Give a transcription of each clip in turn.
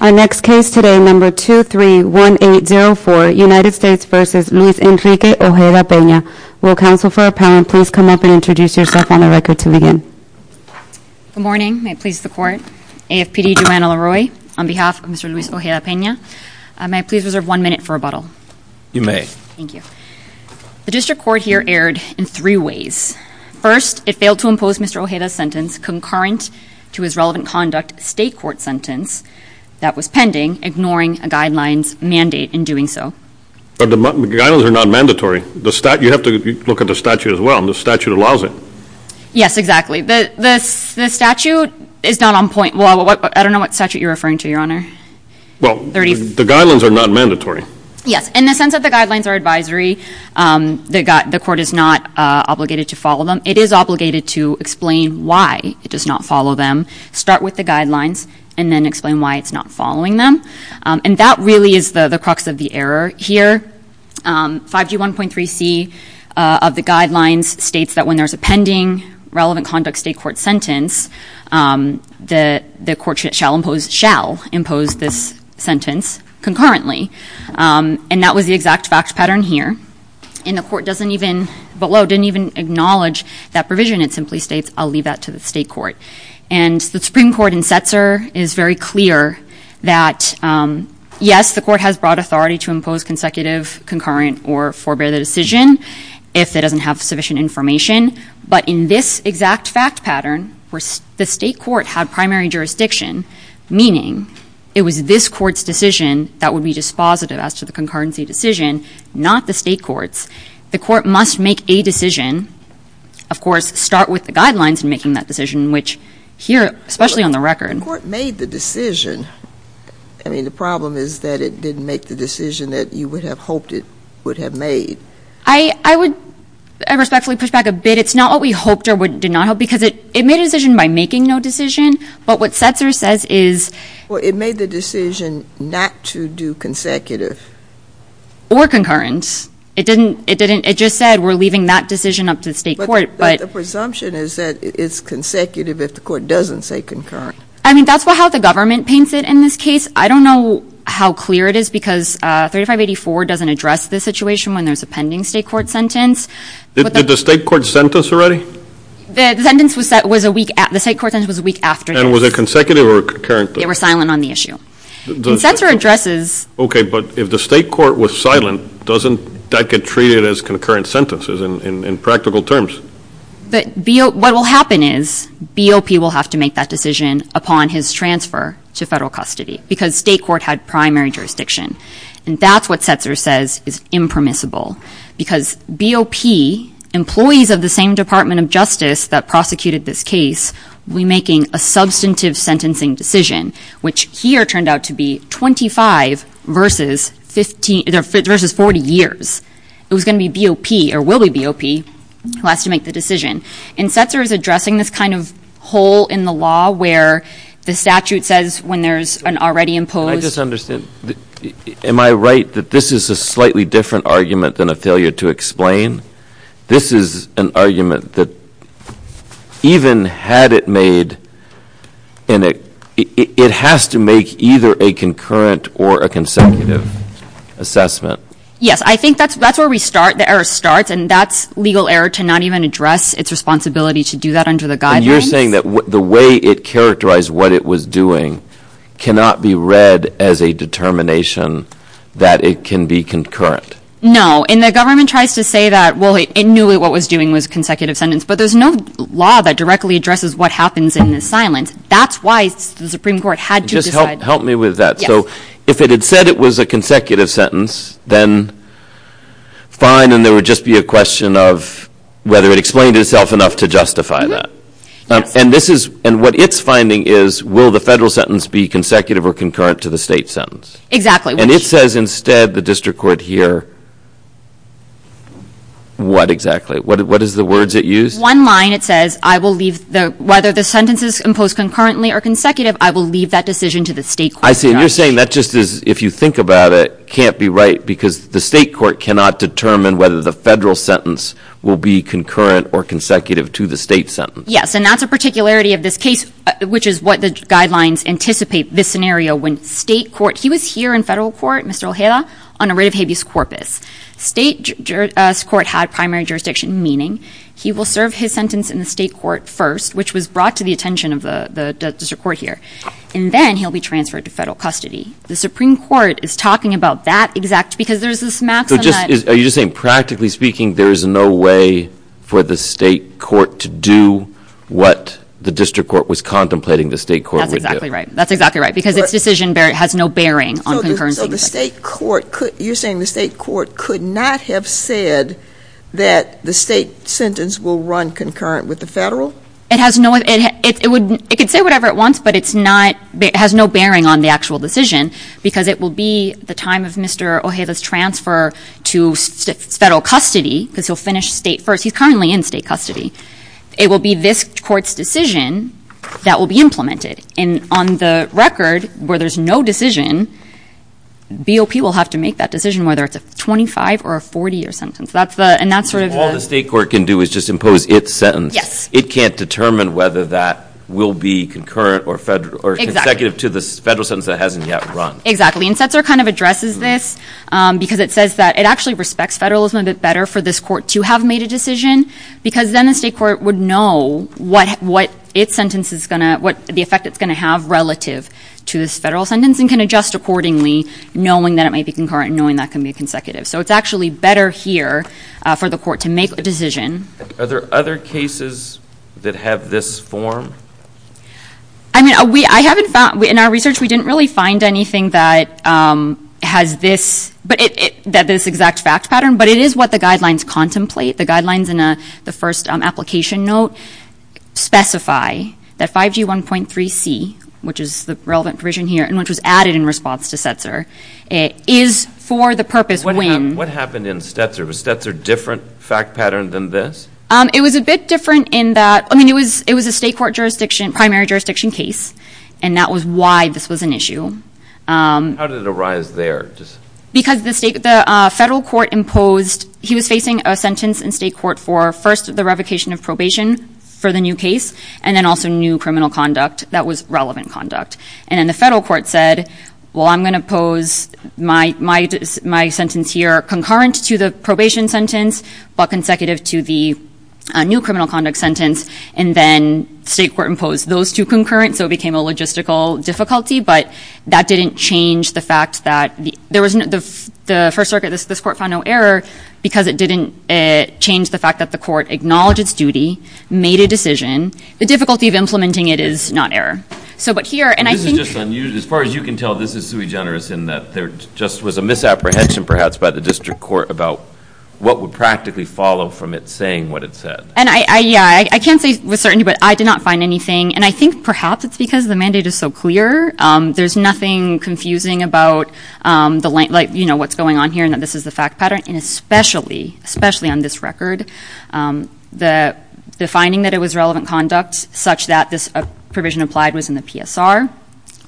Our next case today, number 231804, United States v. Luis Enrique Ojeda-Pena. Will counsel for appellant please come up and introduce yourself on the record to begin. Good morning. May it please the court, AFPD Joanna LaRoy on behalf of Mr. Luis Ojeda-Pena. May I please reserve one minute for rebuttal? You may. Thank you. The district court here erred in three ways. First, it failed to impose Mr. Ojeda's sentence concurrent to his relevant conduct state court sentence that was pending, ignoring a guidelines mandate in doing so. But the guidelines are not mandatory. The statute, you have to look at the statute as well, and the statute allows it. Yes, exactly. The statute is not on point, well, I don't know what statute you're referring to, your Well, the guidelines are not mandatory. Yes. In the sense that the guidelines are advisory, the court is not obligated to follow them. It is obligated to explain why it does not follow them. Start with the guidelines, and then explain why it's not following them. And that really is the crux of the error here. 5G1.3c of the guidelines states that when there's a pending relevant conduct state court sentence, the court shall impose this sentence concurrently. And that was the exact fact pattern here, and the court doesn't even, below, didn't even acknowledge that provision. It simply states, I'll leave that to the state court. And the Supreme Court in Setzer is very clear that, yes, the court has brought authority to impose consecutive, concurrent, or forbear the decision if it doesn't have sufficient information. But in this exact fact pattern, the state court had primary jurisdiction, meaning it was this court's decision that would be dispositive as to the concurrency decision, not the state court's. The court must make a decision, of course, start with the guidelines in making that decision, which here, especially on the record. The court made the decision. I mean, the problem is that it didn't make the decision that you would have hoped it would have made. I would respectfully push back a bit. It's not what we hoped or did not hope, because it made a decision by making no decision. But what Setzer says is... It made the decision not to do consecutive. Or concurrent. It just said, we're leaving that decision up to the state court. But the presumption is that it's consecutive if the court doesn't say concurrent. I mean, that's how the government paints it in this case. I don't know how clear it is, because 3584 doesn't address this situation when there's a pending state court sentence. Did the state court sentence already? The sentence was a week after. The state court sentence was a week after. And was it consecutive or concurrent? They were silent on the issue. And Setzer addresses... Okay, but if the state court was silent, doesn't that get treated as concurrent sentences in practical terms? What will happen is, BOP will have to make that decision upon his transfer to federal custody. Because state court had primary jurisdiction. And that's what Setzer says is impermissible. Because BOP, employees of the same Department of Justice that prosecuted this case, will be making a substantive sentencing decision. Which here turned out to be 25 versus 40 years. It was going to be BOP, or will be BOP, who has to make the decision. And Setzer is addressing this kind of hole in the law where the statute says when there's an already imposed... Can I just understand? Am I right that this is a slightly different argument than a failure to explain? This is an argument that even had it made in a... It has to make either a concurrent or a consecutive assessment. Yes. I think that's where we start. The error starts. And that's legal error to not even address its responsibility to do that under the guidelines. And you're saying that the way it characterized what it was doing cannot be read as a determination that it can be concurrent. No. And the government tries to say that, well, it knew what it was doing was a consecutive sentence. But there's no law that directly addresses what happens in the silence. That's why the Supreme Court had to decide... Help me with that. Yes. If it had said it was a consecutive sentence, then fine, and there would just be a question of whether it explained itself enough to justify that. And this is... And what it's finding is, will the federal sentence be consecutive or concurrent to the state sentence? Exactly. And it says instead the district court here... What exactly? What is the words it used? One line it says, I will leave the... Whether the sentence is imposed concurrently or consecutive, I will leave that decision to the state court. I see. And you're saying that just is, if you think about it, can't be right because the state court cannot determine whether the federal sentence will be concurrent or consecutive to the state sentence. Yes. And that's a particularity of this case, which is what the guidelines anticipate this scenario when state court... He was here in federal court, Mr. Ojeda, on a writ of habeas corpus. State court had primary jurisdiction, meaning he will serve his sentence in the state court first, which was brought to the attention of the district court here, and then he'll be transferred to federal custody. The Supreme Court is talking about that exact... Because there's this maxim that... Are you just saying practically speaking there is no way for the state court to do what the district court was contemplating the state court would do? That's exactly right. That's exactly right. Because its decision has no bearing on concurrency. So the state court could... You're saying the state court could not have said that the state sentence will run concurrent with the federal? It has no... It could say whatever it wants, but it has no bearing on the actual decision, because it will be the time of Mr. Ojeda's transfer to federal custody, because he'll finish state first. He's currently in state custody. It will be this court's decision that will be implemented. And on the record, where there's no decision, BOP will have to make that decision, whether it's a 25 or a 40-year sentence. And that's sort of... All the state court can do is just impose its sentence. Yes. It can't determine whether that will be concurrent or consecutive to the federal sentence that hasn't yet run. Exactly. And Setzer kind of addresses this, because it says that it actually respects federalism a bit better for this court to have made a decision, because then the state court would know what its sentence is going to... The effect it's going to have relative to this federal sentence, and can adjust accordingly, knowing that it might be concurrent and knowing that can be consecutive. So it's actually better here for the court to make a decision. Are there other cases that have this form? I mean, in our research, we didn't really find anything that has this exact fact pattern, but it is what the guidelines contemplate. The guidelines in the first application note specify that 5G 1.3c, which is the relevant provision here, and which was added in response to Setzer, is for the purpose when... What happened in Setzer? Was Setzer a different fact pattern than this? It was a bit different in that... I mean, it was a state court jurisdiction, primary jurisdiction case, and that was why this was an issue. How did it arise there? Because the federal court imposed... He was facing a sentence in state court for, first, the revocation of probation for the new case, and then also new criminal conduct that was relevant conduct. And then the federal court said, well, I'm going to pose my sentence here concurrent to the probation sentence, but consecutive to the new criminal conduct sentence, and then state court imposed those two concurrent, so it became a logistical difficulty. But that didn't change the fact that... There was... The First Circuit... This court found no error because it didn't change the fact that the court acknowledged its duty, made a decision. The difficulty of implementing it is not error. So but here... And I think... This is just unusual. As far as you can tell, this is sui generis in that there just was a misapprehension perhaps by the district court about what would practically follow from it saying what it said. And I... Yeah. I can't say with certainty, but I did not find anything. And I think perhaps it's because the mandate is so clear. There's nothing confusing about what's going on here and that this is the fact pattern. And especially, especially on this record, the finding that it was relevant conduct such that this provision applied was in the PSR,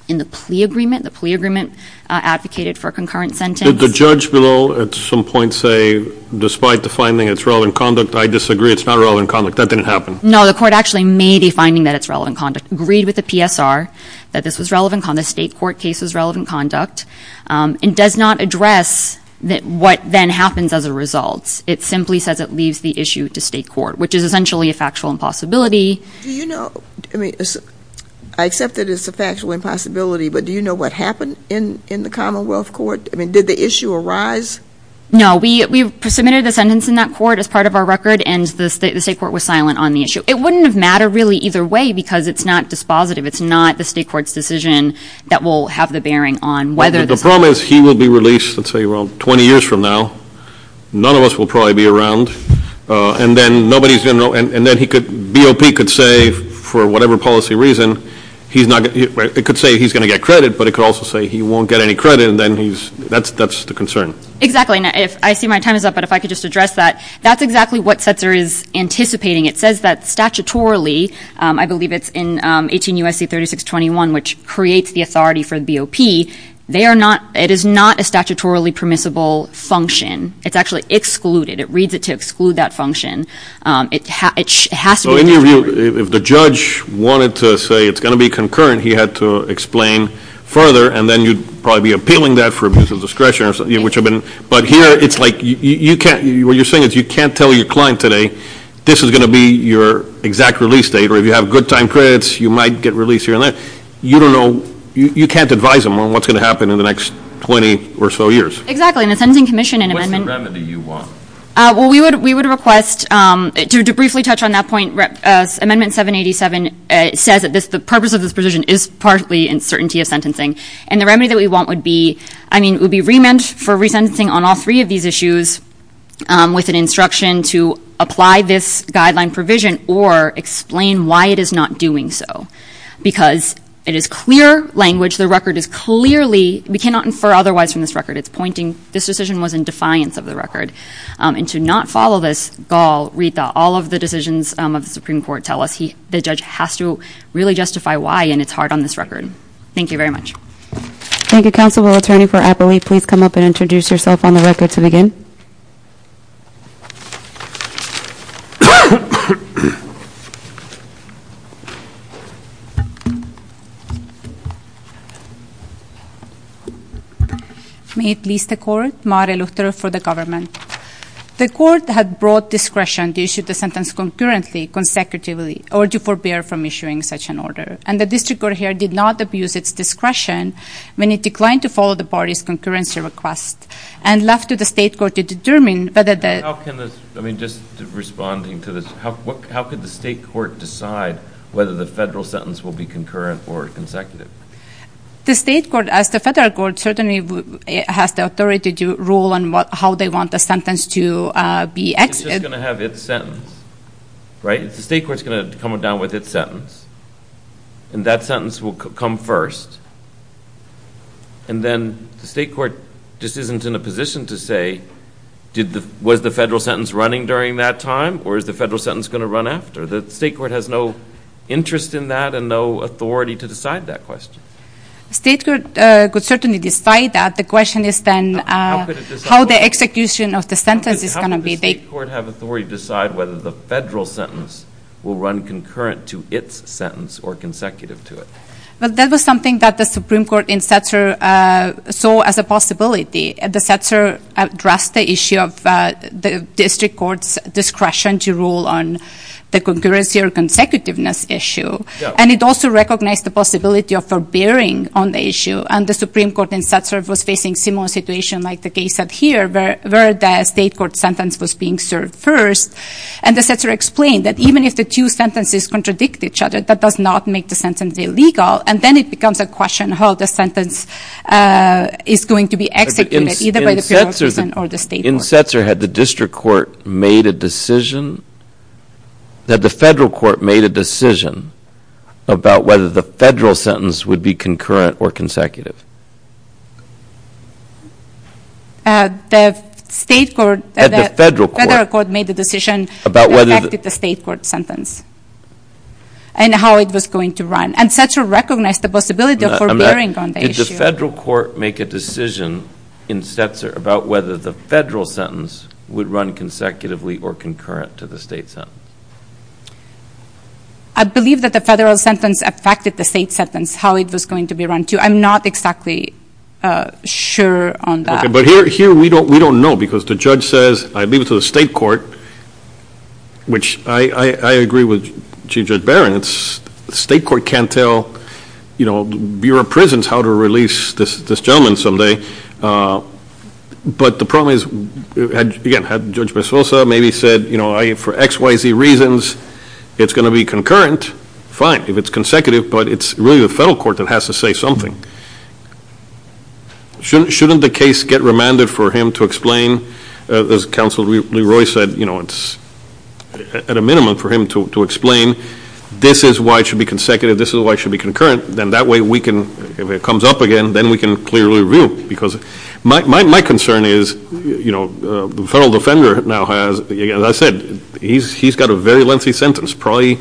in the plea agreement. The plea agreement advocated for a concurrent sentence. Did the judge below at some point say, despite the finding it's relevant conduct, I disagree. It's not relevant conduct. That didn't happen. No. The court actually made a finding that it's relevant conduct, agreed with the PSR that this was relevant conduct, state court case was relevant conduct, and does not address what then happens as a result. It simply says it leaves the issue to state court, which is essentially a factual impossibility. Do you know... I mean, I accept that it's a factual impossibility, but do you know what happened in the Commonwealth Court? I mean, did the issue arise? No. We submitted a sentence in that court as part of our record and the state court was silent on the issue. It wouldn't have mattered really either way because it's not dispositive. It's not the state court's decision that will have the bearing on whether this... The problem is he will be released, let's say, around 20 years from now, none of us will probably be around, and then nobody's going to know, and then he could, BOP could say for whatever policy reason, he's not going to, it could say he's going to get credit, but it could also say he won't get any credit, and then he's... That's the concern. Exactly. I see my time is up, but if I could just address that. That's exactly what Setzer is anticipating. It says that statutorily, I believe it's in 18 U.S.C. 3621, which creates the authority for the BOP. It is not a statutorily permissible function. It's actually excluded. It reads it to exclude that function. It has to be... So in your view, if the judge wanted to say it's going to be concurrent, he had to explain it further, and then you'd probably be appealing that for abuse of discretion, which I've been... But here, it's like, what you're saying is you can't tell your client today, this is going to be your exact release date, or if you have good time credits, you might get released here and there. You don't know, you can't advise them on what's going to happen in the next 20 or so years. Exactly, and the Sentencing Commission in amendment... What's the remedy you want? Well, we would request, to briefly touch on that point, Amendment 787 says that the purpose of this provision is partly in certainty of sentencing, and the remedy that we want would be... I mean, it would be remand for resentencing on all three of these issues with an instruction to apply this guideline provision or explain why it is not doing so, because it is clear language. The record is clearly... We cannot infer otherwise from this record. It's pointing... This decision was in defiance of the record, and to not follow this, Gall, Rita, all of the decisions of the Supreme Court tell us the judge has to really justify why, and it's hard on this record. Thank you very much. Thank you, Counsel. Will Attorney for Appalachia please come up and introduce yourself on the record to begin? May it please the Court, Mari Lutre for the Government. The Court had broad discretion to issue the sentence concurrently, consecutively, or to forbear from issuing such an order, and the district court here did not abuse its discretion when it declined to follow the party's concurrency request and left to the state court to determine whether the... How can the... I mean, just responding to this, how could the state court decide whether the federal sentence will be concurrent or consecutive? The state court, as the federal court, certainly has the authority to rule on how they want the sentence to be... It's just going to have its sentence, right? The state court's going to come down with its sentence, and that sentence will come first, and then the state court just isn't in a position to say, was the federal sentence running during that time, or is the federal sentence going to run after? The state court has no interest in that and no authority to decide that question. State court could certainly decide that. The question is then how the execution of the sentence is going to be. How could the state court have authority to decide whether the federal sentence will run concurrent to its sentence or consecutive to it? Well, that was something that the Supreme Court in Setzer saw as a possibility. The Setzer addressed the issue of the district court's discretion to rule on the concurrency or consecutiveness issue, and it also recognized the possibility of forbearing on the issue, and the Supreme Court in Setzer was facing a similar situation like the case up here where the state court sentence was being served first, and the Setzer explained that even if the two sentences contradict each other, that does not make the sentence illegal, and then it becomes a question of how the sentence is going to be executed, either by the bureaucracy or the state court. In Setzer, had the district court made a decision, had the federal court made a decision about whether the federal sentence would be concurrent or consecutive? The federal court made the decision about whether the state court sentence and how it was going to run, and Setzer recognized the possibility of forbearing on the issue. Did the federal court make a decision in Setzer about whether the federal sentence would run consecutively or concurrent to the state sentence? I believe that the federal sentence affected the state sentence, how it was going to be run too. I'm not exactly sure on that. But here we don't know because the judge says, I leave it to the state court, which I agree with Chief Judge Barron, the state court can't tell, you know, the Bureau of Prisons how to release this gentleman someday. But the problem is, again, had Judge Mezosa maybe said, you know, for X, Y, Z reasons, it's going to be concurrent, fine, if it's consecutive, but it's really the federal court that has to say something. Shouldn't the case get remanded for him to explain, as Counsel Leroy said, you know, it's at a minimum for him to explain, this is why it should be consecutive, this is why it should be concurrent, then that way we can, if it comes up again, then we can clearly review because my concern is, you know, the federal defender now has, as I said, he's got a very lengthy sentence, probably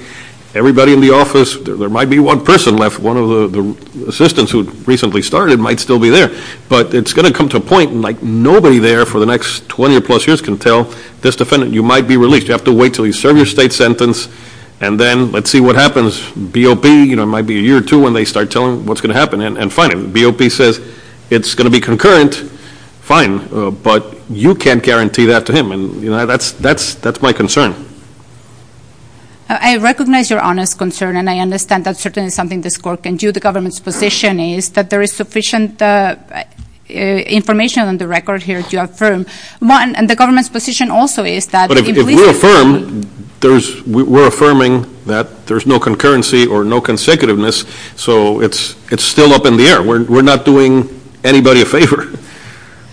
everybody in the office, there might be one person left, one of the assistants who recently started might still be there, but it's going to come to a point like nobody there for the next 20 or plus years can tell this defendant, you might be released, you have to wait until you serve your state sentence and then let's see what happens, BOP, you know, it might be a year or two when they start telling what's going to happen, and fine, BOP says it's going to be concurrent, fine, but you can't guarantee that to him, and that's my concern. I recognize your honest concern, and I understand that's certainly something this court can do, the government's position is that there is sufficient information on the record here to affirm, and the government's position also is that- But if we affirm, we're affirming that there's no concurrency or no consecutiveness, so it's still up in the air, we're not doing anybody a favor.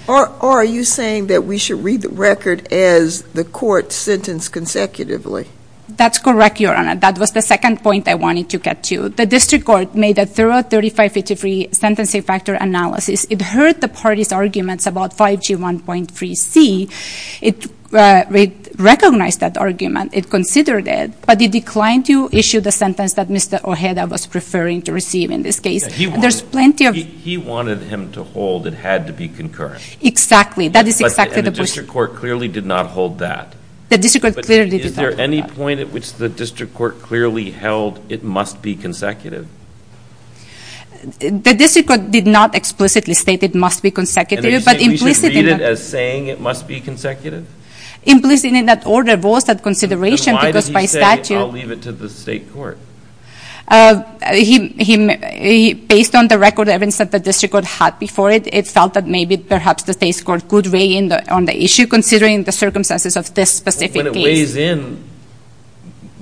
Or are you saying that we should read the record as the court sentenced consecutively? That's correct, Your Honor, that was the second point I wanted to get to, the district court made a thorough 3553 sentencing factor analysis, it heard the party's arguments about 5G 1.3c, it recognized that argument, it considered it, but it declined to issue the sentence that Mr. Ojeda was preferring to receive in this case. He wanted him to hold it had to be concurrent. Exactly, that is exactly the point. But the district court clearly did not hold that. The district court clearly did not hold that. But is there any point at which the district court clearly held it must be consecutive? The district court did not explicitly state it must be consecutive, but implicitly- And are you saying we should read it as saying it must be consecutive? Implicitly in that order was that consideration because by statute- Then why did he say, I'll leave it to the state court? Based on the record evidence that the district court had before it, it felt that maybe perhaps the state court could weigh in on the issue considering the circumstances of this specific case. When it weighs in,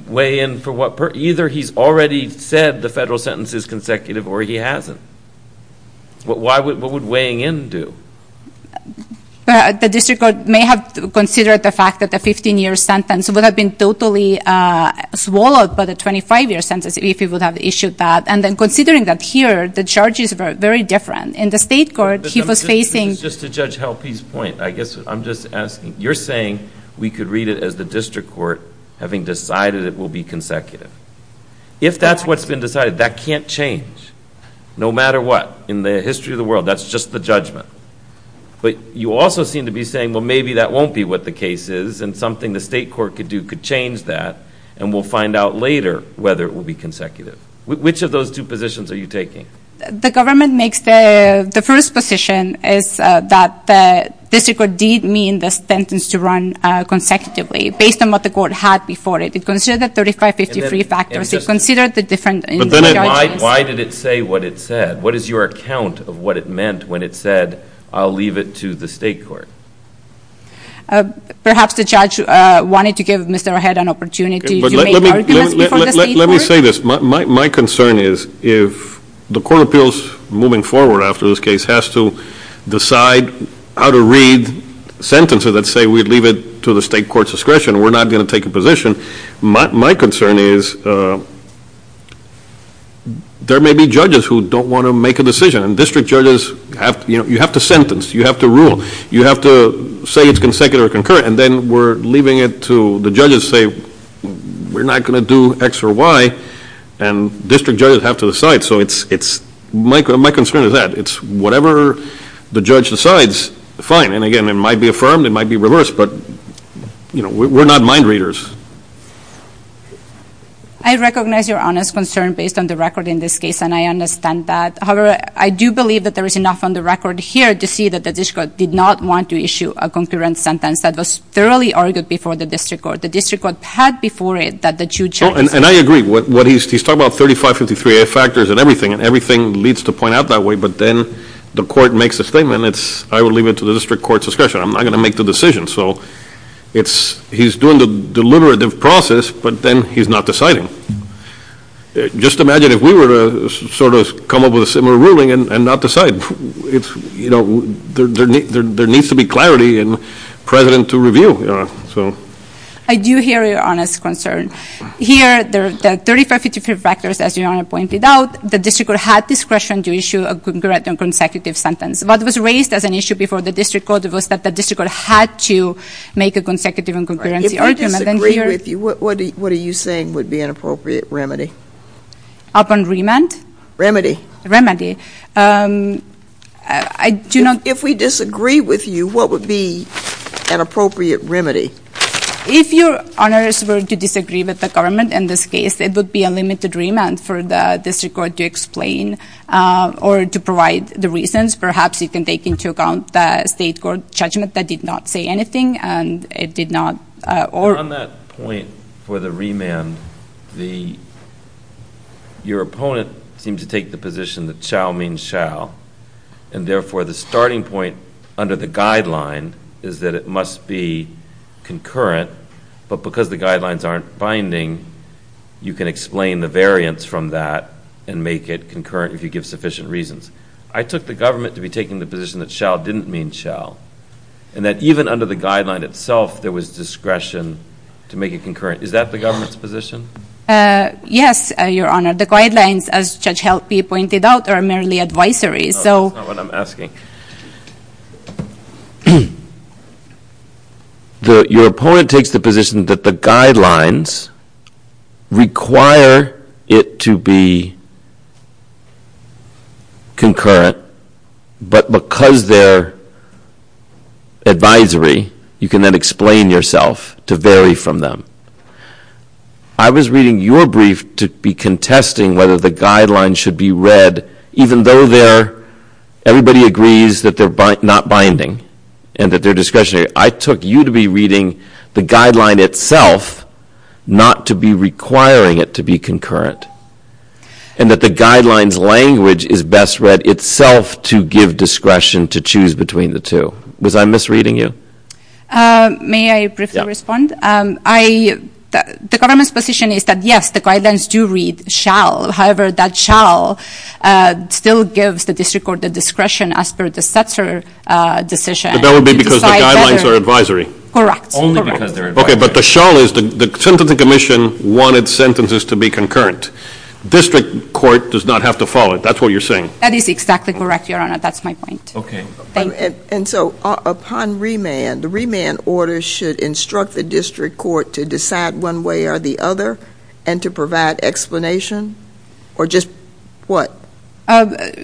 weigh in for what, either he's already said the federal sentence is consecutive or he hasn't. What would weighing in do? The district court may have considered the fact that the 15-year sentence would have been totally swallowed by the 25-year sentence if he would have issued that. And then considering that here, the charges were very different. In the state court, he was facing- Just to judge Halpy's point, I guess I'm just asking. You're saying we could read it as the district court having decided it will be consecutive. If that's what's been decided, that can't change no matter what. In the history of the world, that's just the judgment. But you also seem to be saying, well, maybe that won't be what the case is and something the state court could do could change that and we'll find out later whether it will be consecutive. Which of those two positions are you taking? The first position is that the district court did mean the sentence to run consecutively based on what the court had before it. It considered the 35-53 factors. It considered the different charges. Why did it say what it said? What is your account of what it meant when it said, I'll leave it to the state court? Perhaps the judge wanted to give Mr. Ahead an opportunity to make arguments before the state court. Let me say this. My concern is if the court of appeals moving forward after this case has to decide how to read sentences that say we leave it to the state court's discretion, we're not going to take a position. My concern is there may be judges who don't want to make a decision. District judges, you have to sentence. You have to rule. You have to say it's consecutive or concurrent, and then we're leaving it to the judges to say we're not going to do X or Y, and district judges have to decide. So my concern is that. It's whatever the judge decides, fine. And again, it might be affirmed. It might be reversed. But we're not mind readers. I recognize your honest concern based on the record in this case, and I understand that. However, I do believe that there is enough on the record here to see that the district did not want to issue a concurrent sentence that was thoroughly argued before the district court. The district court had before it that the two judges. And I agree. He's talking about 3553A factors and everything, and everything leads to point out that way, but then the court makes a statement. It's I will leave it to the district court's discretion. I'm not going to make the decision. So he's doing the deliberative process, but then he's not deciding. Just imagine if we were to sort of come up with a similar ruling and not decide. There needs to be clarity and precedent to review. I do hear your honest concern. Here, the 3553A factors, as Your Honor pointed out, the district court had discretion to issue a consecutive sentence. What was raised as an issue before the district court was that the district court had to make a consecutive and concurrency argument. If we disagree with you, what are you saying would be an appropriate remedy? Upon remand? Remedy. Remedy. If we disagree with you, what would be an appropriate remedy? If Your Honors were to disagree with the government in this case, it would be a limited remand for the district court to explain or to provide the reasons. Perhaps you can take into account the state court judgment that did not say anything and it did not On that point for the remand, your opponent seems to take the position that shall means shall, and therefore the starting point under the guideline is that it must be concurrent, but because the guidelines aren't binding, you can explain the variance from that and make it concurrent if you give sufficient reasons. I took the government to be taking the position that shall didn't mean shall, and that even under the guideline itself there was discretion to make it concurrent. Is that the government's position? Yes, Your Honor. The guidelines, as Judge Helpe pointed out, are merely advisories. That's not what I'm asking. Your opponent takes the position that the guidelines require it to be concurrent, but because they're advisory, you can then explain yourself to vary from them. I was reading your brief to be contesting whether the guidelines should be read even though everybody agrees that they're not binding and that they're discretionary. I took you to be reading the guideline itself not to be requiring it to be concurrent, and that the guidelines language is best read itself to give discretion to choose between the two. Was I misreading you? May I briefly respond? The government's position is that, yes, the guidelines do read shall. However, that shall still gives the district court the discretion as per the Stetzer decision. But that would be because the guidelines are advisory. Correct. Only because they're advisory. Okay, but the shall is the sentencing commission wanted sentences to be concurrent. District court does not have to follow it. That's what you're saying. That is exactly correct, Your Honor. That's my point. Okay. Thank you. And so upon remand, the remand order should instruct the district court to decide one way or the other and to provide explanation or just what?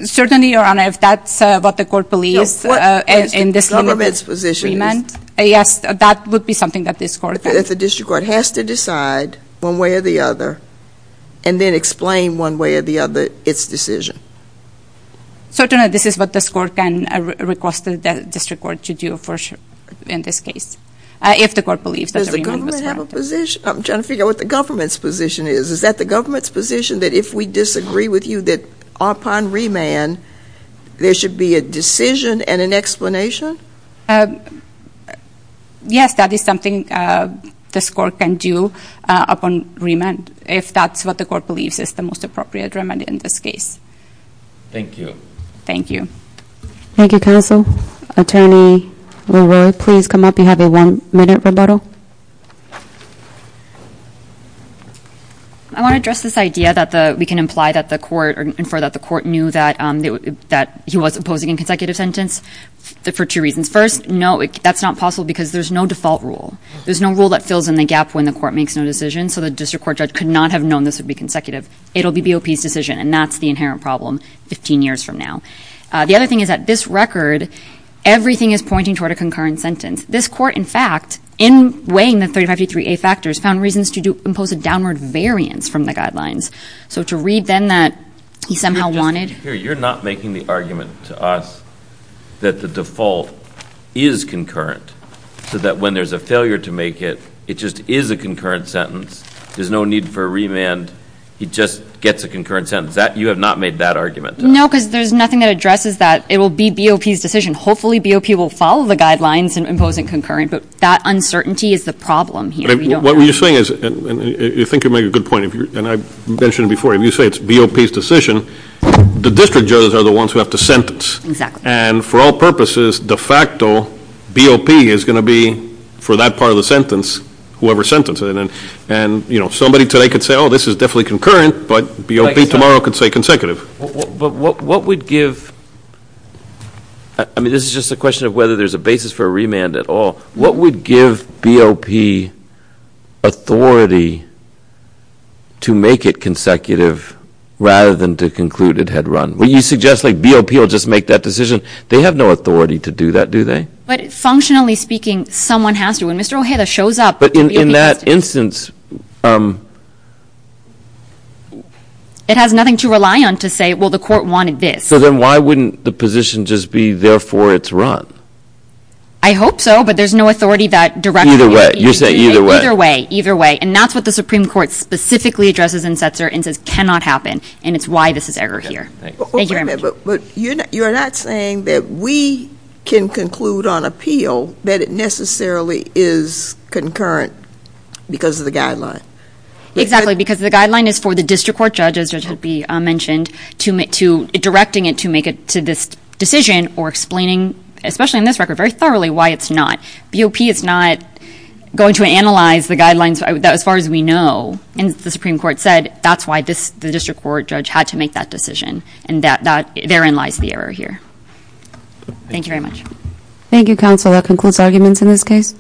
Certainly, Your Honor, if that's what the court believes in this amendment. No, what the government's position is. Yes, that would be something that this court can. If the district court has to decide one way or the other and then explain one way or the other its decision. Certainly, this is what this court can request the district court to do in this case. If the court believes that the remand was warranted. Does the government have a position? I'm trying to figure out what the government's position is. Is that the government's position that if we disagree with you that upon remand there should be a decision and an explanation? Yes, that is something this court can do upon remand if that's what the court believes is the most appropriate remand in this case. Thank you. Thank you. Thank you, counsel. Attorney LeRoy, please come up. You have a one-minute rebuttal. I want to address this idea that we can imply that the court or infer that the court knew that he was opposing a consecutive sentence for two reasons. First, no, that's not possible because there's no default rule. There's no rule that fills in the gap when the court makes no decision, so the district court judge could not have known this would be consecutive. It'll be BOP's decision, and that's the inherent problem 15 years from now. The other thing is that this record, everything is pointing toward a concurrent sentence. This court, in fact, in weighing the 3053A factors, found reasons to impose a downward variance from the guidelines. So to read then that he somehow wanted. You're not making the argument to us that the default is concurrent so that when there's a failure to make it, it just is a concurrent sentence. There's no need for a remand. He just gets a concurrent sentence. You have not made that argument. No, because there's nothing that addresses that. It will be BOP's decision. Hopefully, BOP will follow the guidelines in imposing concurrent, but that uncertainty is the problem here. What you're saying is, and I think you make a good point, and I mentioned it before. If you say it's BOP's decision, the district judges are the ones who have to sentence. And for all purposes, de facto, BOP is going to be, for that part of the sentence, whoever sentenced it. And somebody today could say, oh, this is definitely concurrent, but BOP tomorrow could say consecutive. But what would give, I mean, this is just a question of whether there's a basis for a remand at all. What would give BOP authority to make it consecutive rather than to conclude it had run? Well, you suggest like BOP will just make that decision. They have no authority to do that, do they? But functionally speaking, someone has to. When Mr. Ojeda shows up, BOP has to. So then why wouldn't the position just be, therefore, it's run? I hope so, but there's no authority that directs BOP. Either way. Either way. And that's what the Supreme Court specifically addresses in Setzer and says cannot happen. And it's why this is error here. Thank you very much. But you're not saying that we can conclude on appeal that it necessarily is concurrent because of the guideline? Exactly. Because the guideline is for the district court judge, as has been mentioned, to directing it to make it to this decision or explaining, especially on this record, very thoroughly why it's not. BOP is not going to analyze the guidelines as far as we know. And the Supreme Court said that's why the district court judge had to make that decision. And therein lies the error here. Thank you very much. Thank you, counsel. That concludes arguments in this case.